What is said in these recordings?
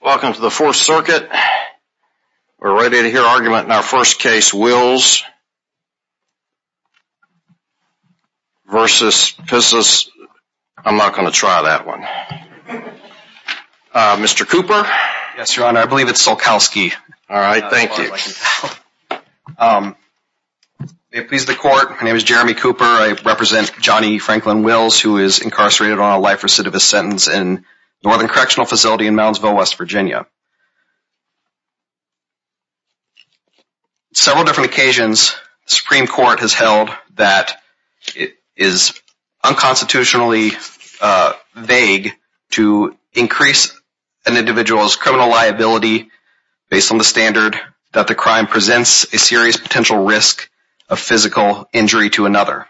Welcome to the 4th Circuit. We're ready to hear argument in our first case. Wills vs. Piszczolkowski. I'm not going to try that one. Mr. Cooper? Yes, Your Honor. I believe it's Pszczolkowski. Alright, thank you. May it please the Court, my name is Jeremy Cooper. I represent Johnny Franklin Wills who is incarcerated on a life recidivist sentence in Northern Correctional Facility in Moundsville, West Virginia. On several different occasions, the Supreme Court has held that it is unconstitutionally vague to increase an individual's criminal liability based on the standard that the crime presents a serious potential risk of physical injury to another.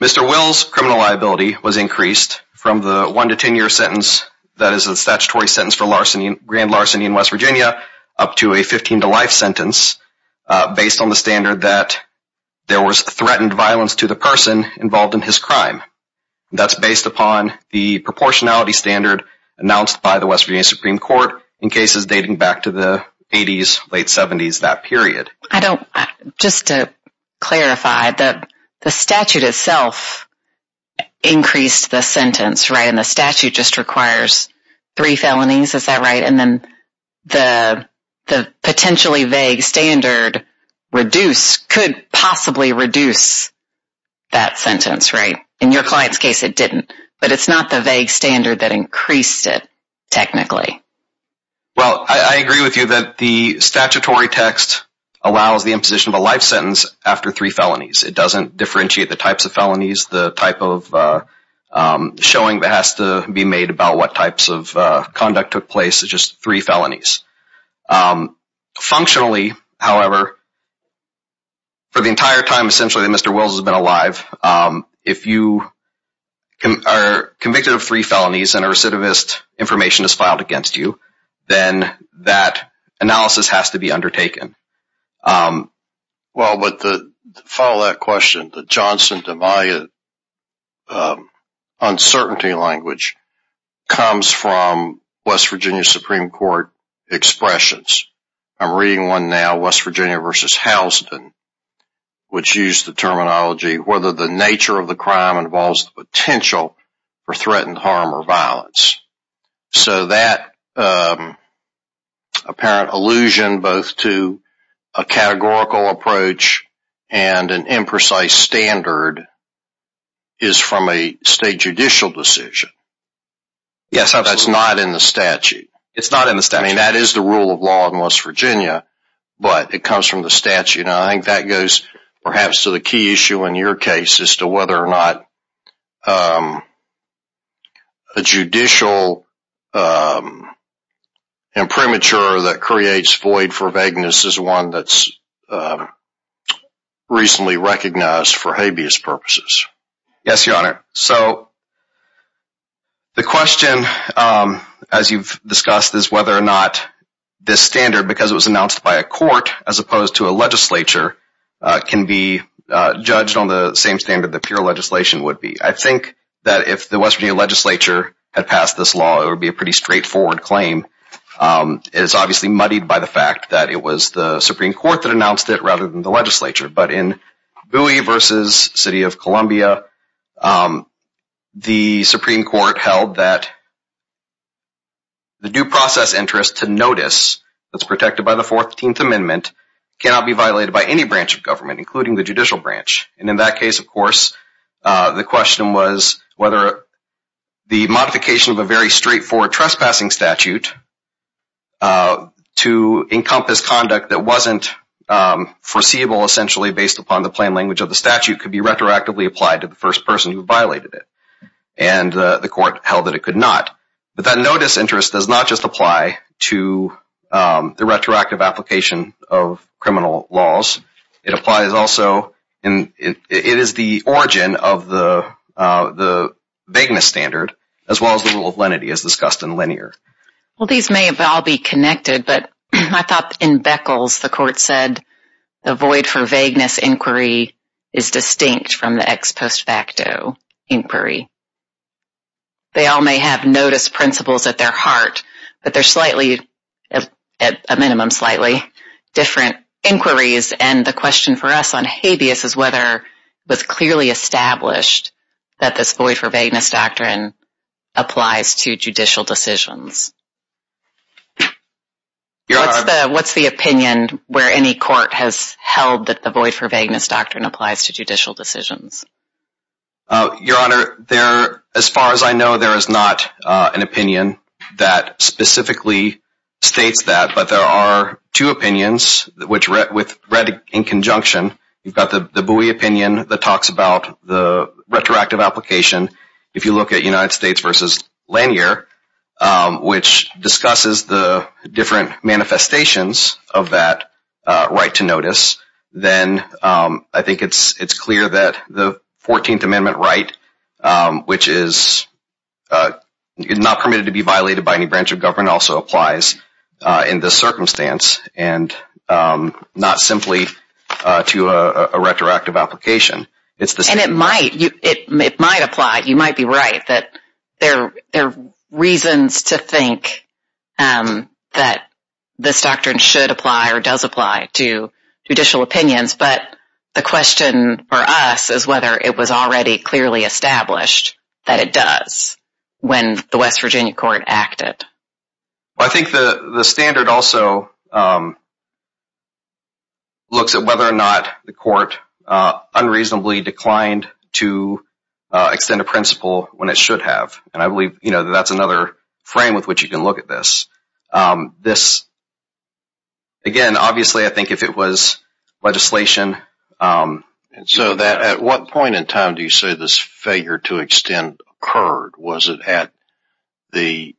Mr. Wills' criminal liability was increased from the 1-10 year sentence that is a statutory sentence for grand larceny in West Virginia up to a 15 to life sentence based on the standard that there was threatened violence to the person involved in his crime. That's based upon the proportionality standard announced by the West Virginia Supreme Court in cases dating back to the 80s, late 70s, that period. Just to clarify, the statute itself increased the sentence, right? And the statute just requires three felonies, is that right? And then the potentially vague standard could possibly reduce that sentence, right? In your client's case, it didn't. But it's not the vague standard that increased it, technically. Well, I agree with you that the statutory text allows the imposition of a life sentence after three felonies. It doesn't differentiate the types of felonies, the type of showing that has to be made about what types of conduct took place. It's just three felonies. Functionally, however, for the entire time essentially that Mr. Wills has been alive, if you are convicted of three felonies and a recidivist information is filed against you, then that analysis has to be undertaken. Well, but to follow that question, the Johnson-DeMaio uncertainty language comes from West Virginia Supreme Court expressions. I'm reading one now, West Virginia v. Houston, which used the terminology, whether the nature of the crime involves the potential for threatened harm or violence. So that apparent allusion both to a categorical approach and an imprecise standard is from a state judicial decision. Yes, absolutely. That's not in the statute. It's not in the statute. I mean, that is the rule of law in West Virginia, but it comes from the statute. I think that goes perhaps to the key issue in your case as to whether or not a judicial imprimatur that creates void for vagueness is one that's recently recognized for habeas purposes. Yes, Your Honor. So the question, as you've discussed, is whether or not this standard, because it was announced by a court as opposed to a legislature, can be judged on the same standard that pure legislation would be. I think that if the West Virginia legislature had passed this law, it would be a pretty straightforward claim. It's obviously muddied by the fact that it was the Supreme Court that announced it rather than the legislature, but in Bowie v. City of Columbia, the Supreme Court held that the due process interest to notice that's protected by the 14th Amendment cannot be violated by any branch of government, including the judicial branch. And in that case, of course, the question was whether the modification of a very straightforward trespassing statute to encompass conduct that wasn't foreseeable essentially based upon the plain language of the statute could be retroactively applied to the first person who violated it, and the court held that it could not. But that notice interest does not just apply to the retroactive application of criminal laws. It applies also, it is the origin of the vagueness standard as well as the rule of lenity as discussed in linear. Well, these may have all be connected, but I thought in Beckles, the court said the void for vagueness inquiry is distinct from the ex post facto inquiry. They all may have notice principles at their heart, but they're slightly, at a minimum, slightly different inquiries. And the question for us on habeas is whether it was clearly established that this void for vagueness doctrine applies to judicial decisions. What's the opinion where any court has held that the void for vagueness doctrine applies to judicial decisions? Your Honor, as far as I know, there is not an opinion that specifically states that, but there are two opinions which read in conjunction. You've got the buoy opinion that talks about the retroactive application. If you look at United States v. Lanier, which discusses the different manifestations of that right to notice, then I think it's clear that the 14th Amendment right, which is not permitted to be violated by any branch of government, also applies in this circumstance. And not simply to a retroactive application. And it might apply. You might be right that there are reasons to think that this doctrine should apply or does apply to judicial opinions, but the question for us is whether it was already clearly established that it does when the West Virginia court acted. I think the standard also looks at whether or not the court unreasonably declined to extend a principle when it should have. And I believe that's another frame with which you can look at this. At what point in time do you say this failure to extend occurred? Was it at the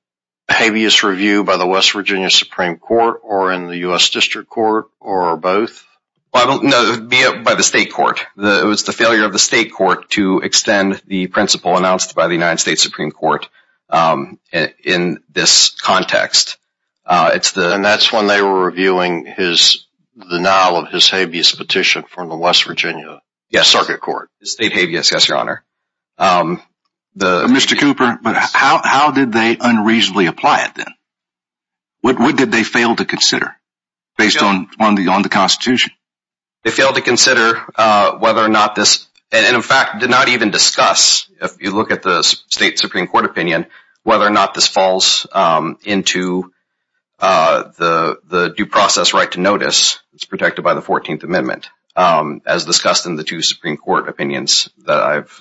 habeas review by the West Virginia Supreme Court or in the U.S. District Court or both? No, it would be by the state court. It was the failure of the state court to extend the principle announced by the United States Supreme Court in this context. And that's when they were reviewing the denial of his habeas petition from the West Virginia Circuit Court. State habeas, yes, Your Honor. Mr. Cooper, how did they unreasonably apply it then? What did they fail to consider based on the Constitution? They failed to consider whether or not this, and in fact did not even discuss, if you look at the state Supreme Court opinion, whether or not this falls into the due process right to notice that's protected by the 14th Amendment, as discussed in the two Supreme Court opinions that I've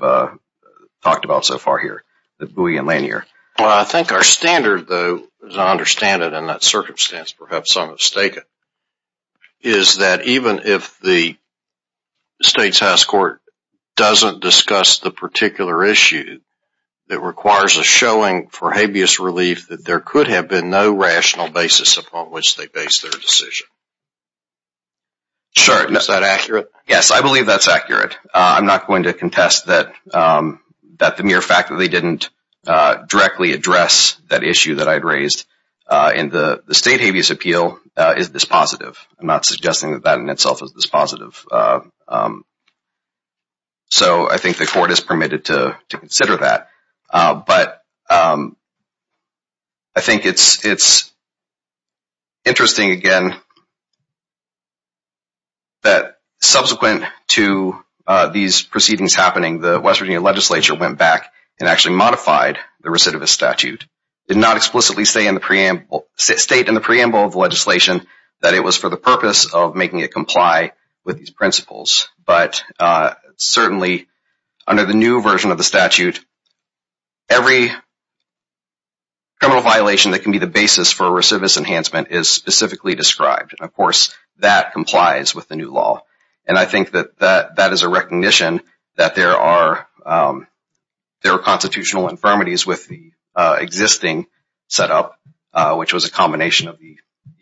talked about so far here, the buoy and lanyard. Well, I think our standard, though, as I understand it in that circumstance, perhaps I'm mistaken, is that even if the state's house court doesn't discuss the particular issue, it requires a showing for habeas relief that there could have been no rational basis upon which they base their decision. Is that accurate? Yes, I believe that's accurate. I'm not going to contest that the mere fact that they didn't directly address that issue that I'd raised in the state habeas appeal is this positive. I'm not suggesting that that in itself is this positive. So I think the court is permitted to consider that. But I think it's interesting, again, that subsequent to these proceedings happening, the West Virginia legislature went back and actually modified the recidivist statute. It did not explicitly state in the preamble of the legislation that it was for the purpose of making it comply with these principles. But certainly under the new version of the statute, every criminal violation that can be the basis for a recidivist enhancement is specifically described. Of course, that complies with the new law. And I think that that is a recognition that there are constitutional infirmities with the existing setup, which was a combination of the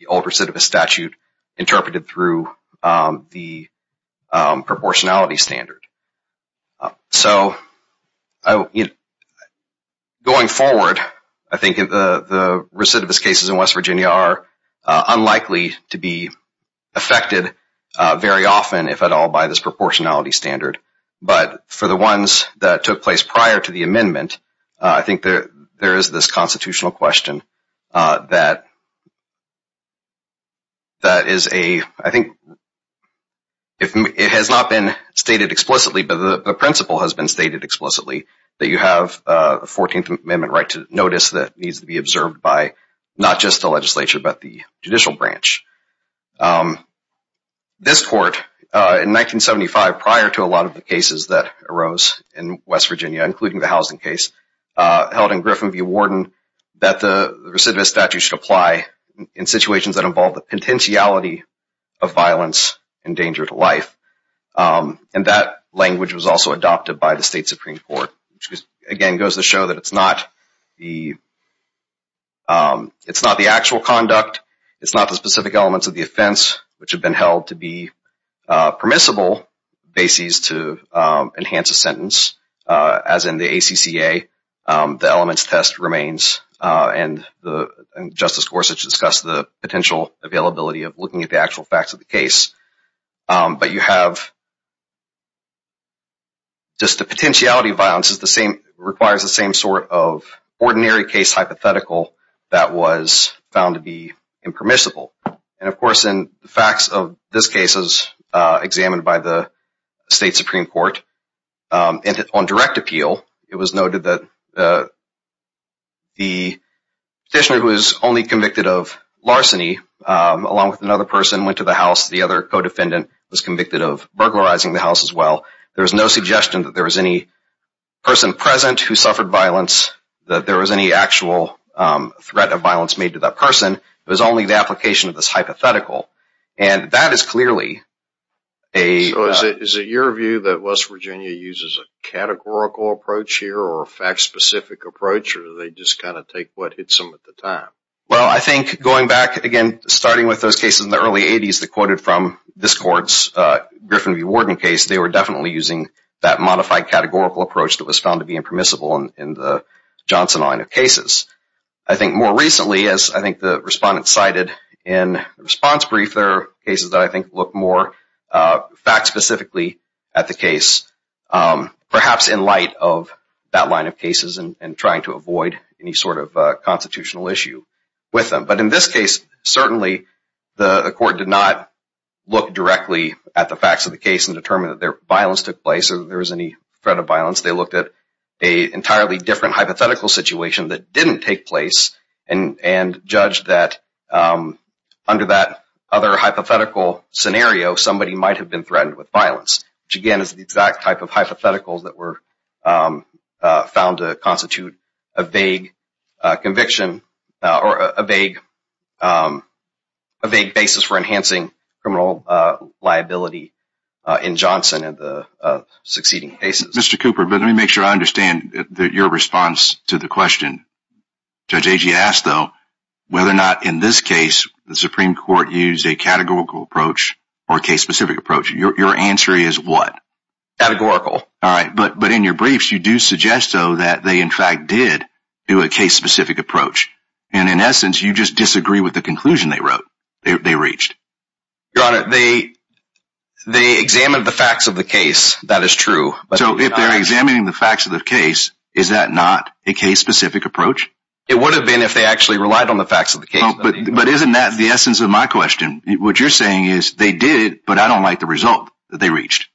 old recidivist statute interpreted through the proportionality standard. So going forward, I think the recidivist cases in West Virginia are unlikely to be affected very often, if at all, by this proportionality standard. But for the ones that took place prior to the amendment, I think there is this constitutional question that is a – I think it has not been stated explicitly, but the principle has been stated explicitly that you have a 14th Amendment right to notice that needs to be observed by not just the legislature, but the judicial branch. This court, in 1975, prior to a lot of the cases that arose in West Virginia, including the housing case, held in Griffin v. Warden that the recidivist statute should apply in situations that involve the potentiality of violence and danger to life. And that language was also adopted by the state Supreme Court, which again goes to show that it's not the actual conduct, it's not the specific elements of the offense, which have been held to be permissible bases to enhance a sentence. As in the ACCA, the elements test remains, and Justice Gorsuch discussed the potential availability of looking at the actual facts of the case. But you have – just the potentiality of violence requires the same sort of ordinary case hypothetical that was found to be impermissible. And of course, in the facts of this case as examined by the state Supreme Court, on direct appeal, it was noted that the petitioner who was only convicted of larceny, along with another person went to the house, the other co-defendant was convicted of burglarizing the house as well. There was no suggestion that there was any person present who suffered violence, that there was any actual threat of violence made to that person. It was only the application of this hypothetical. And that is clearly a – So is it your view that West Virginia uses a categorical approach here, or a fact-specific approach, or do they just kind of take what hits them at the time? Well, I think going back, again, starting with those cases in the early 80s that quoted from this court's Griffin v. Warden case, they were definitely using that modified categorical approach that was found to be impermissible in the Johnson line of cases. I think more recently, as I think the respondent cited in the response brief, there are cases that I think look more fact-specifically at the case, perhaps in light of that line of cases and trying to avoid any sort of constitutional issue with them. But in this case, certainly the court did not look directly at the facts of the case and determine that violence took place or that there was any threat of violence. They looked at an entirely different hypothetical situation that didn't take place and judged that under that other hypothetical scenario, somebody might have been threatened with violence. Which, again, is the exact type of hypotheticals that were found to constitute a vague conviction or a vague basis for enhancing criminal liability in Johnson in the succeeding cases. Mr. Cooper, let me make sure I understand your response to the question. Judge Agee asked, though, whether or not in this case the Supreme Court used a categorical approach or a case-specific approach. Your answer is what? Categorical. All right. But in your briefs, you do suggest, though, that they, in fact, did do a case-specific approach. And in essence, you just disagree with the conclusion they wrote, they reached. Your Honor, they examined the facts of the case. That is true. So if they're examining the facts of the case, is that not a case-specific approach? It would have been if they actually relied on the facts of the case. But isn't that the essence of my question? What you're saying is they did, but I don't like the result that they reached.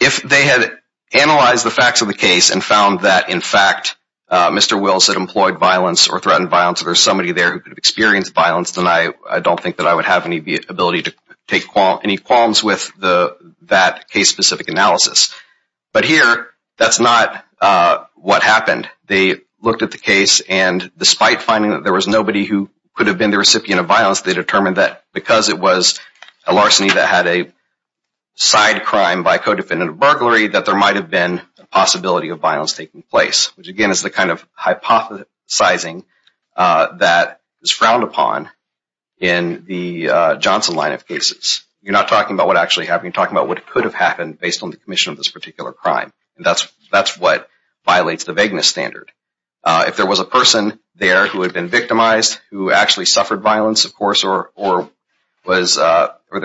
If they had analyzed the facts of the case and found that, in fact, Mr. Wills had employed violence or threatened violence or there was somebody there who could have experienced violence, then I don't think that I would have any ability to take any qualms with that case-specific analysis. But here, that's not what happened. They looked at the case, and despite finding that there was nobody who could have been the recipient of violence, they determined that because it was a larceny that had a side crime by co-defendant of burglary, that there might have been a possibility of violence taking place, which, again, is the kind of hypothesizing that is frowned upon in the Johnson line of cases. You're not talking about what actually happened. You're talking about what could have happened based on the commission of this particular crime. That's what violates the vagueness standard. If there was a person there who had been victimized, who actually suffered violence, of course, or there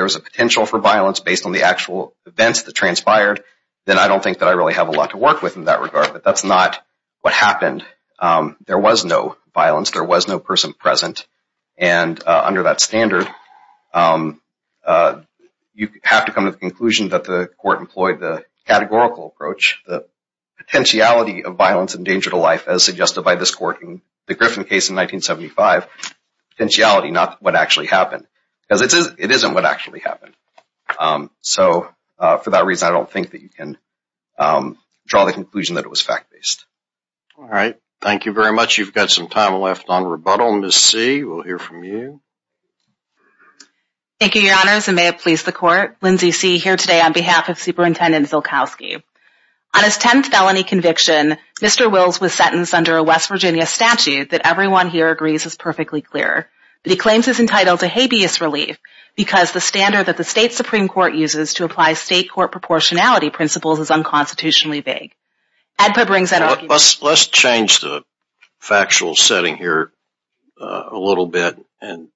was a potential for violence based on the actual events that transpired, then I don't think that I really have a lot to work with in that regard. But that's not what happened. There was no violence. There was no person present. And under that standard, you have to come to the conclusion that the court employed the categorical approach, the potentiality of violence and danger to life, as suggested by this court in the Griffin case in 1975, potentiality, not what actually happened. Because it isn't what actually happened. So for that reason, I don't think that you can draw the conclusion that it was fact-based. All right. Thank you very much. You've got some time left on rebuttal. Ms. C, we'll hear from you. Thank you, Your Honors, and may it please the court. Lindsay C. here today on behalf of Superintendent Zilkowski. On his 10th felony conviction, Mr. Wills was sentenced under a West Virginia statute that everyone here agrees is perfectly clear. But he claims he's entitled to habeas relief because the standard that the state Supreme Court uses to apply state court proportionality principles is unconstitutionally vague. Let's change the factual setting here a little bit and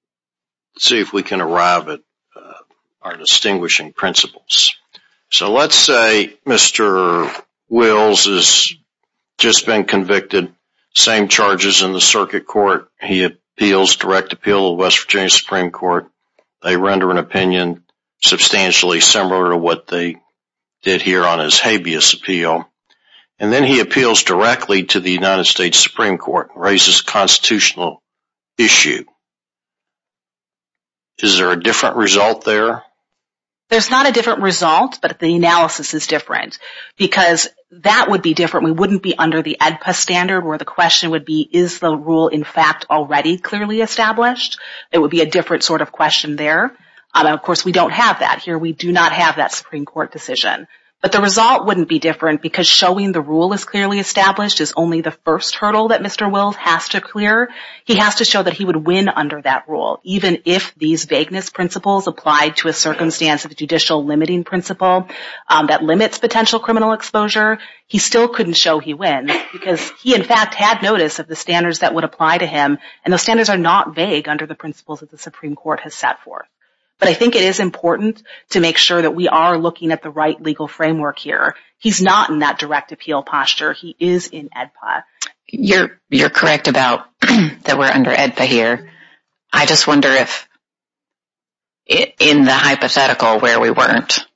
see if we can arrive at our distinguishing principles. So let's say Mr. Wills has just been convicted. Same charges in the circuit court. He appeals direct appeal to the West Virginia Supreme Court. They render an opinion substantially similar to what they did here on his habeas appeal. And then he appeals directly to the United States Supreme Court and raises a constitutional issue. Is there a different result there? There's not a different result, but the analysis is different because that would be different. We wouldn't be under the AEDPA standard where the question would be, is the rule in fact already clearly established? It would be a different sort of question there. Of course, we don't have that here. We do not have that Supreme Court decision. But the result wouldn't be different because showing the rule is clearly established is only the first hurdle that Mr. Wills has to clear. He has to show that he would win under that rule, even if these vagueness principles apply to a circumstance of a judicial limiting principle that limits potential criminal exposure. He still couldn't show he wins because he, in fact, had notice of the standards that would apply to him. And those standards are not vague under the principles that the Supreme Court has set forth. But I think it is important to make sure that we are looking at the right legal framework here. He's not in that direct appeal posture. He is in AEDPA. You're correct about that we're under AEDPA here. I just wonder if in the hypothetical where we weren't,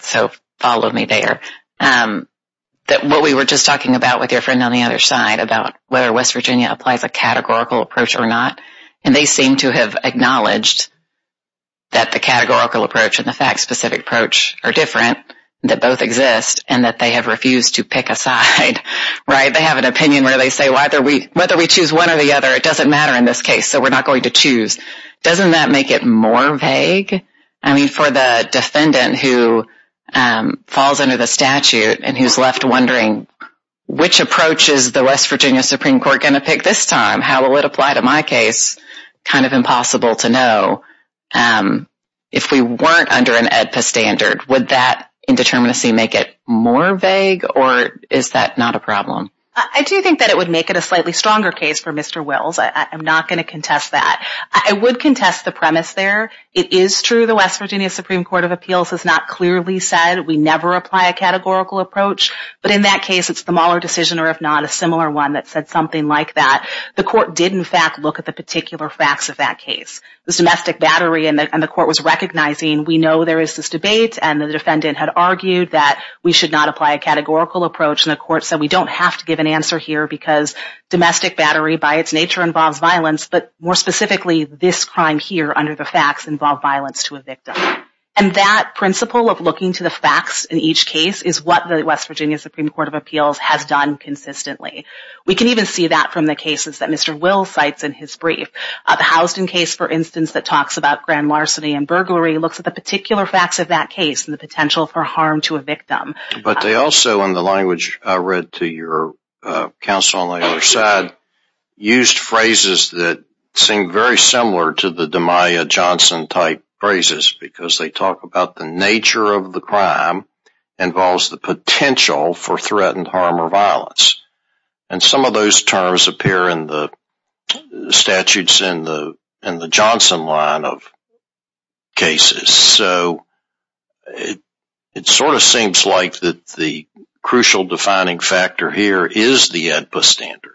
so follow me there, that what we were just talking about with your friend on the other side about whether West Virginia applies a categorical approach or not. And they seem to have acknowledged that the categorical approach and the fact specific approach are different, that both exist, and that they have refused to pick a side. They have an opinion where they say, whether we choose one or the other, it doesn't matter in this case, so we're not going to choose. Doesn't that make it more vague? I mean, for the defendant who falls under the statute and who's left wondering, which approach is the West Virginia Supreme Court going to pick this time? How will it apply to my case? Kind of impossible to know. If we weren't under an AEDPA standard, would that indeterminacy make it more vague, or is that not a problem? I do think that it would make it a slightly stronger case for Mr. Wills. I'm not going to contest that. I would contest the premise there. It is true the West Virginia Supreme Court of Appeals has not clearly said we never apply a categorical approach. But in that case, it's the Mueller decision, or if not, a similar one that said something like that. The court did, in fact, look at the particular facts of that case. The domestic battery, and the court was recognizing, we know there is this debate, and the defendant had argued that we should not apply a categorical approach. And the court said, we don't have to give an answer here because domestic battery, by its nature, involves violence. But more specifically, this crime here, under the facts, involved violence to a victim. And that principle of looking to the facts in each case is what the West Virginia Supreme Court of Appeals has done consistently. We can even see that from the cases that Mr. Wills cites in his brief. The Houston case, for instance, that talks about grand larceny and burglary, looks at the particular facts of that case and the potential for harm to a victim. But they also, in the language I read to your counsel on the other side, used phrases that seemed very similar to the Damiah Johnson type phrases. Because they talk about the nature of the crime involves the potential for threatened harm or violence. And some of those terms appear in the statutes in the Johnson line of cases. So, it sort of seems like the crucial defining factor here is the AEDPA standard.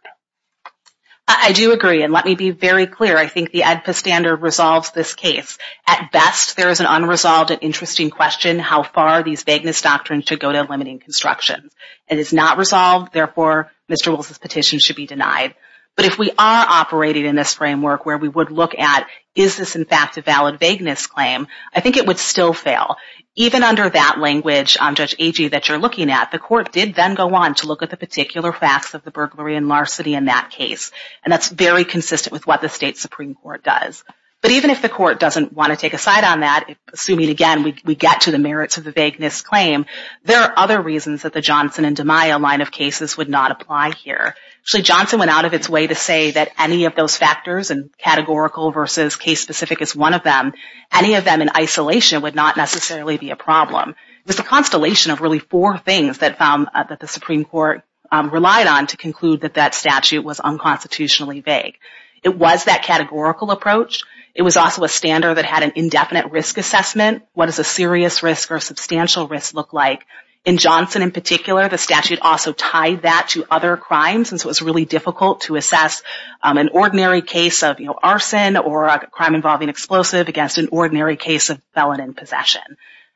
I do agree, and let me be very clear. I think the AEDPA standard resolves this case. At best, there is an unresolved and interesting question how far these vagueness doctrines should go to limiting construction. It is not resolved. Therefore, Mr. Wills' petition should be denied. But if we are operating in this framework where we would look at, is this in fact a valid vagueness claim, I think it would still fail. Even under that language, Judge Agee, that you're looking at, the court did then go on to look at the particular facts of the burglary and larceny in that case. And that's very consistent with what the state Supreme Court does. But even if the court doesn't want to take a side on that, assuming, again, we get to the merits of the vagueness claim, there are other reasons that the Johnson and DiMaio line of cases would not apply here. Actually, Johnson went out of its way to say that any of those factors, and categorical versus case-specific is one of them, any of them in isolation would not necessarily be a problem. It was a constellation of really four things that the Supreme Court relied on to conclude that that statute was unconstitutionally vague. It was that categorical approach. It was also a standard that had an indefinite risk assessment. What does a serious risk or substantial risk look like? In Johnson in particular, the statute also tied that to other crimes. And so it was really difficult to assess an ordinary case of arson or a crime involving explosive against an ordinary case of felon in possession.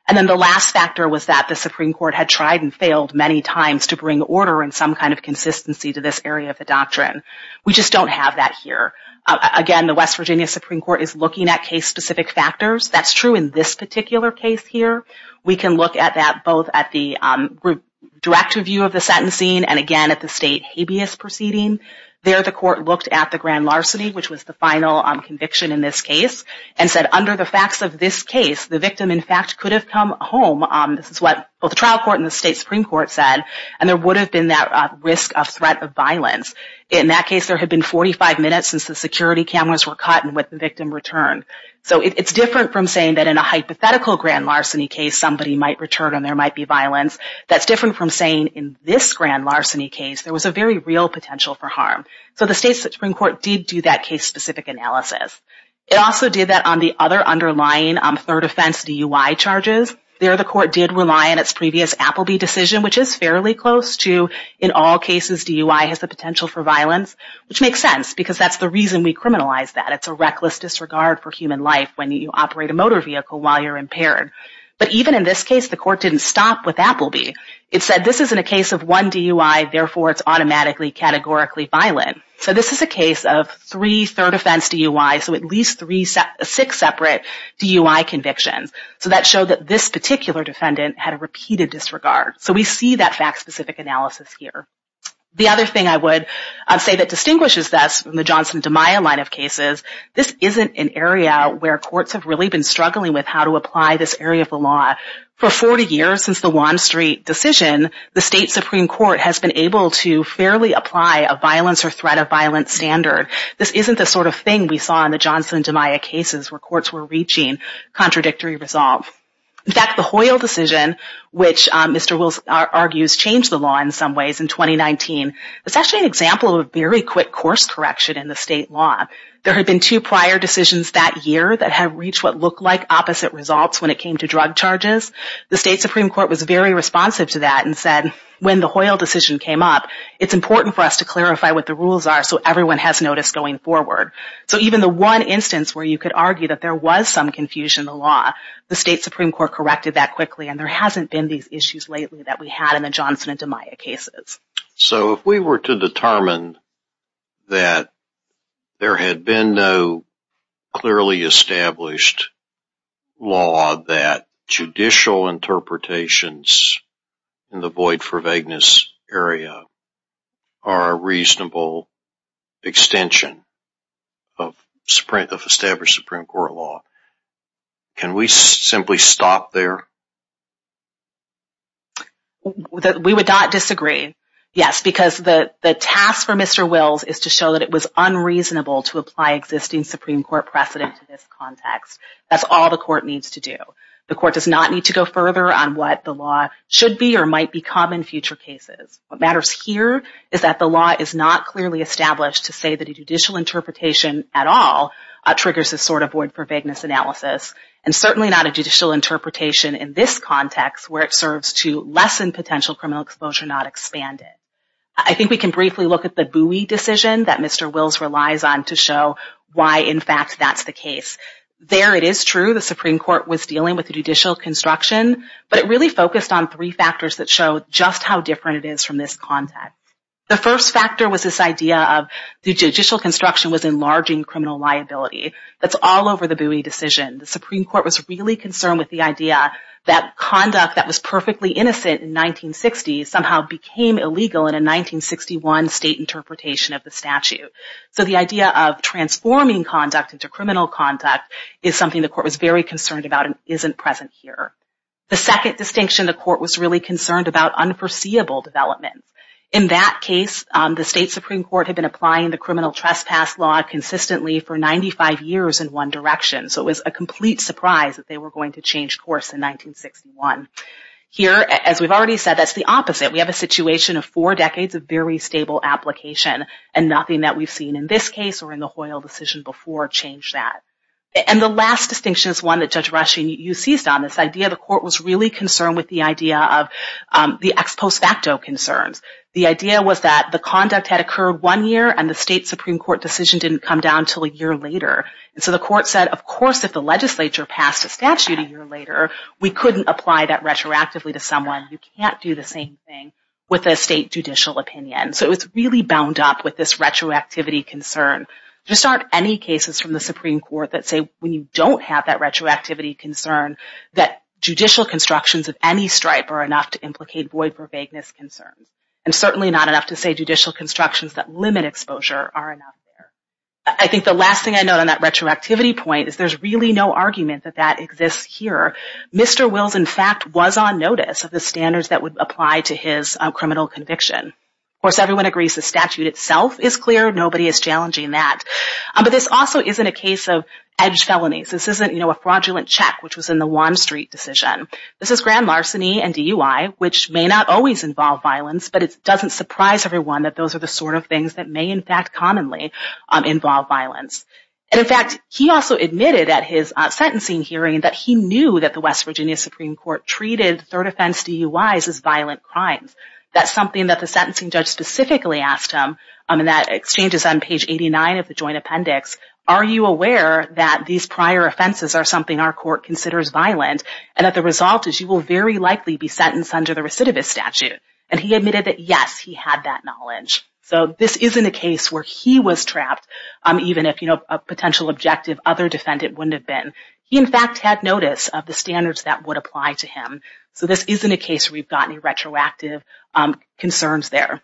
And then the last factor was that the Supreme Court had tried and failed many times to bring order and some kind of consistency to this area of the doctrine. We just don't have that here. Again, the West Virginia Supreme Court is looking at case-specific factors. That's true in this particular case here. We can look at that both at the direct review of the sentencing and again at the state habeas proceeding. There the court looked at the grand larceny, which was the final conviction in this case, and said under the facts of this case, the victim in fact could have come home. This is what both the trial court and the state Supreme Court said. And there would have been that risk of threat of violence. In that case, there had been 45 minutes since the security cameras were cut and when the victim returned. So it's different from saying that in a hypothetical grand larceny case, somebody might return and there might be violence. That's different from saying in this grand larceny case, there was a very real potential for harm. So the state Supreme Court did do that case-specific analysis. It also did that on the other underlying third offense DUI charges. There the court did rely on its previous Appleby decision, which is fairly close to in all cases DUI has the potential for violence, which makes sense because that's the reason we criminalize that. It's a reckless disregard for human life when you operate a motor vehicle while you're impaired. But even in this case, the court didn't stop with Appleby. It said this isn't a case of one DUI, therefore it's automatically categorically violent. So this is a case of three third offense DUIs, so at least six separate DUI convictions. So that showed that this particular defendant had a repeated disregard. So we see that fact-specific analysis here. The other thing I would say that distinguishes this from the Johnson and DiMaio line of cases, this isn't an area where courts have really been struggling with how to apply this area of the law. For 40 years since the Wand Street decision, the state Supreme Court has been able to fairly apply a violence or threat of violence standard. This isn't the sort of thing we saw in the Johnson and DiMaio cases where courts were reaching contradictory resolve. In fact, the Hoyle decision, which Mr. Wills argues changed the law in some ways in 2019, is actually an example of a very quick course correction in the state law. There had been two prior decisions that year that had reached what looked like opposite results when it came to drug charges. The state Supreme Court was very responsive to that and said when the Hoyle decision came up, it's important for us to clarify what the rules are so everyone has notice going forward. So even the one instance where you could argue that there was some confusion in the law, the state Supreme Court corrected that quickly and there hasn't been these issues lately that we had in the Johnson and DiMaio cases. So if we were to determine that there had been no clearly established law that judicial interpretations in the void for vagueness area are a reasonable extension of established Supreme Court law, can we simply stop there? We would not disagree, yes, because the task for Mr. Wills is to show that it was unreasonable to apply existing Supreme Court precedent to this context. That's all the court needs to do. The court does not need to go further on what the law should be or might become in future cases. What matters here is that the law is not clearly established to say that a judicial interpretation at all triggers this sort of void for vagueness analysis and certainly not a judicial interpretation in this context where it serves to lessen potential criminal exposure, not expand it. I think we can briefly look at the Bowie decision that Mr. Wills relies on to show why in fact that's the case. There it is true the Supreme Court was dealing with judicial construction, but it really focused on three factors that show just how different it is from this context. The first factor was this idea of the judicial construction was enlarging criminal liability. That's all over the Bowie decision. The Supreme Court was really concerned with the idea that conduct that was perfectly innocent in 1960 somehow became illegal in a 1961 state interpretation of the statute. So the idea of transforming conduct into criminal conduct is something the court was very concerned about and isn't present here. The second distinction the court was really concerned about unforeseeable development. In that case, the state Supreme Court had been applying the criminal trespass law consistently for 95 years in one direction. So it was a complete surprise that they were going to change course in 1961. Here, as we've already said, that's the opposite. We have a situation of four decades of very stable application and nothing that we've seen in this case or in the Hoyle decision before changed that. And the last distinction is one that Judge Rushing, you seized on, this idea the court was really concerned with the idea of the ex post facto concerns. The idea was that the conduct had occurred one year and the state Supreme Court decision didn't come down until a year later. And so the court said, of course, if the legislature passed a statute a year later, we couldn't apply that retroactively to someone. You can't do the same thing with a state judicial opinion. So it was really bound up with this retroactivity concern. There just aren't any cases from the Supreme Court that say when you don't have that retroactivity concern that judicial constructions of any stripe are enough to implicate void for vagueness concerns. And certainly not enough to say judicial constructions that limit exposure are enough. I think the last thing I know on that retroactivity point is there's really no argument that that exists here. Mr. Wills, in fact, was on notice of the standards that would apply to his criminal conviction. Of course, everyone agrees the statute itself is clear. Nobody is challenging that. But this also isn't a case of edge felonies. This isn't a fraudulent check, which was in the Wall Street decision. This is grand larceny and DUI, which may not always involve violence, but it doesn't surprise everyone that those are the sort of things that may, in fact, commonly involve violence. And, in fact, he also admitted at his sentencing hearing that he knew that the West Virginia Supreme Court treated third offense DUIs as violent crimes. That's something that the sentencing judge specifically asked him. And that exchange is on page 89 of the joint appendix. Are you aware that these prior offenses are something our court considers violent and that the result is you will very likely be sentenced under the recidivist statute? And he admitted that, yes, he had that knowledge. So this isn't a case where he was trapped, even if a potential objective other defendant wouldn't have been. He, in fact, had notice of the standards that would apply to him. So this isn't a case where we've got any retroactive concerns there.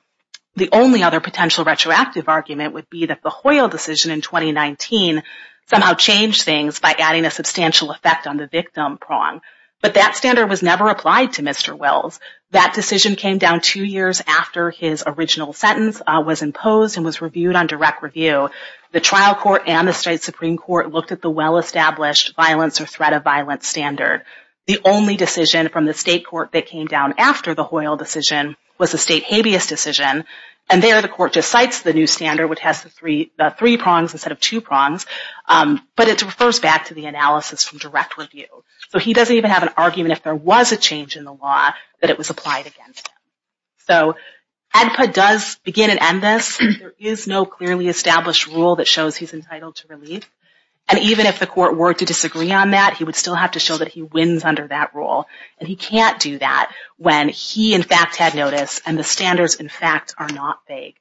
The only other potential retroactive argument would be that the Hoyle decision in 2019 somehow changed things by adding a substantial effect on the victim prong. But that standard was never applied to Mr. Wells. That decision came down two years after his original sentence was imposed and was reviewed on direct review. The trial court and the state Supreme Court looked at the well-established violence or threat of violence standard. The only decision from the state court that came down after the Hoyle decision was the state habeas decision. And there the court just cites the new standard, which has the three prongs instead of two prongs. But it refers back to the analysis from direct review. So he doesn't even have an argument if there was a change in the law that it was applied against him. So ADPA does begin and end this. There is no clearly established rule that shows he's entitled to relief. And even if the court were to disagree on that, he would still have to show that he wins under that rule. And he can't do that when he, in fact, had notice and the standards, in fact, are not vague.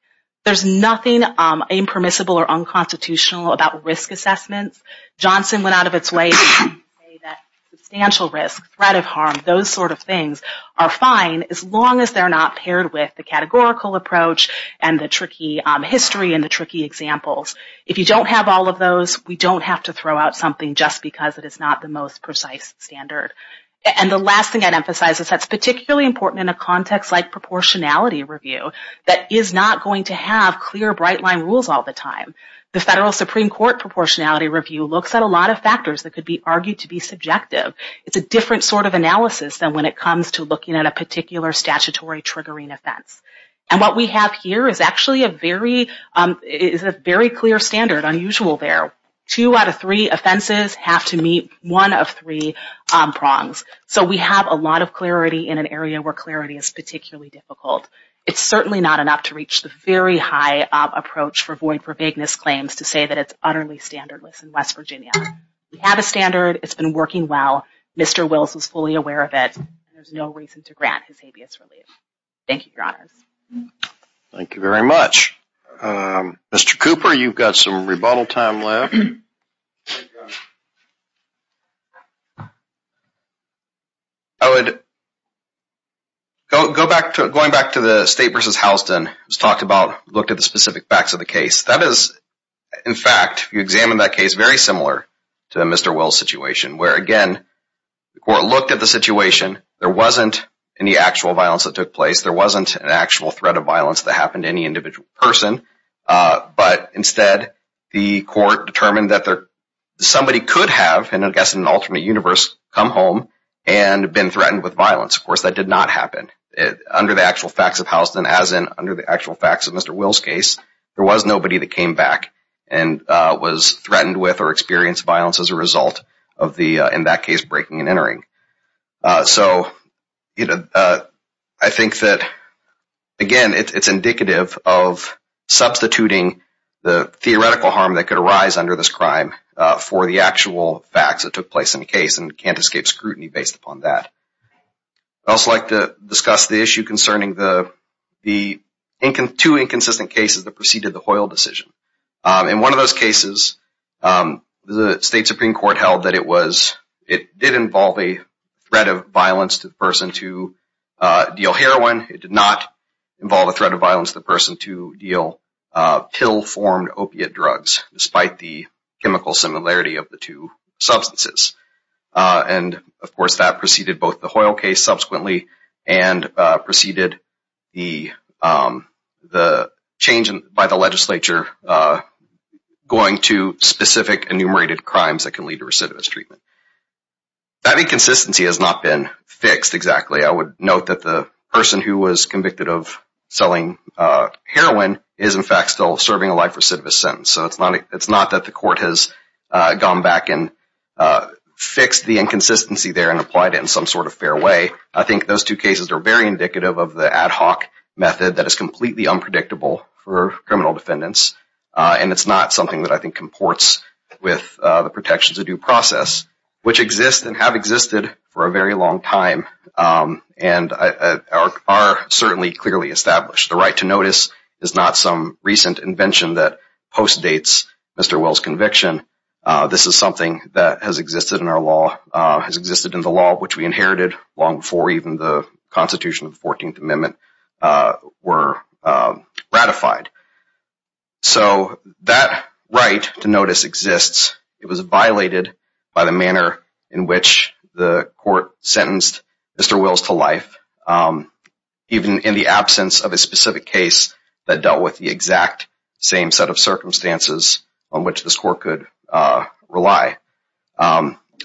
There's nothing impermissible or unconstitutional about risk assessments. Johnson went out of its way to say that substantial risk, threat of harm, those sort of things are fine as long as they're not paired with the categorical approach and the tricky history and the tricky examples. If you don't have all of those, we don't have to throw out something just because it is not the most precise standard. And the last thing I'd emphasize is that's particularly important in a context like proportionality review that is not going to have clear, bright-line rules all the time. The federal Supreme Court proportionality review looks at a lot of factors that could be argued to be subjective. It's a different sort of analysis than when it comes to looking at a particular statutory triggering offense. And what we have here is actually a very clear standard, unusual there. Two out of three offenses have to meet one of three prongs. So we have a lot of clarity in an area where clarity is particularly difficult. It's certainly not enough to reach the very high approach for void for vagueness claims to say that it's utterly standardless in West Virginia. We have a standard. It's been working well. Mr. Wills was fully aware of it. There's no reason to grant his habeas relief. Thank you, Your Honors. Thank you very much. Mr. Cooper, you've got some rebuttal time left. I would go back to the State v. Houston. It was talked about, looked at the specific facts of the case. That is, in fact, if you examine that case, very similar to Mr. Wills' situation, where, again, the court looked at the situation. There wasn't any actual violence that took place. There wasn't an actual threat of violence that happened to any individual person. But instead, the court determined that somebody could have, and I guess in an alternate universe, come home and been threatened with violence. Of course, that did not happen. Under the actual facts of Houston, as in under the actual facts of Mr. Wills' case, there was nobody that came back and was threatened with or experienced violence as a result of the, in that case, breaking and entering. So I think that, again, it's indicative of substituting the theoretical harm that could arise under this crime for the actual facts that took place in the case and can't escape scrutiny based upon that. I'd also like to discuss the issue concerning the two inconsistent cases that preceded the Hoyle decision. In one of those cases, the State Supreme Court held that it did involve a threat of violence to the person to deal heroin. It did not involve a threat of violence to the person to deal pill-formed opiate drugs, despite the chemical similarity of the two substances. And, of course, that preceded both the Hoyle case subsequently and preceded the change by the legislature going to specific enumerated crimes that can lead to recidivist treatment. That inconsistency has not been fixed exactly. I would note that the person who was convicted of selling heroin is, in fact, still serving a life recidivist sentence. So it's not that the court has gone back and fixed the inconsistency there and applied it in some sort of fair way. I think those two cases are very indicative of the ad hoc method that is completely unpredictable for criminal defendants. And it's not something that I think comports with the protections of due process, which exist and have existed for a very long time and are certainly clearly established. The right to notice is not some recent invention that postdates Mr. Well's conviction. This is something that has existed in our law, has existed in the law which we inherited long before even the Constitution of the 14th Amendment were ratified. So that right to notice exists. It was violated by the manner in which the court sentenced Mr. Well's to life, even in the absence of a specific case that dealt with the exact same set of circumstances on which this court could rely.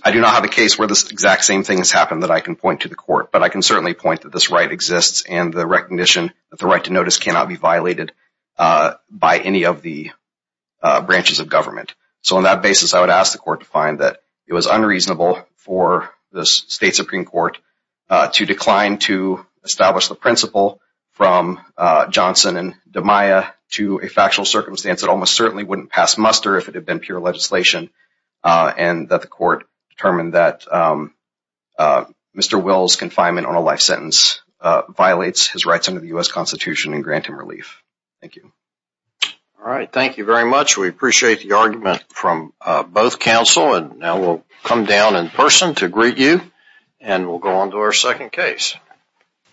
I do not have a case where this exact same thing has happened that I can point to the court, but I can certainly point that this right exists and the recognition that the right to notice cannot be violated by any of the branches of government. So on that basis, I would ask the court to find that it was unreasonable for the state Supreme Court to decline to establish the principle from Johnson and DiMaia to a factual circumstance that almost certainly wouldn't pass muster if it had been pure legislation, and that the court determined that Mr. Well's confinement on a life sentence violates his rights under the U.S. Constitution and grant him relief. Thank you. All right. Thank you very much. We appreciate the argument from both counsel, and now we'll come down in person to greet you, and we'll go on to our second case.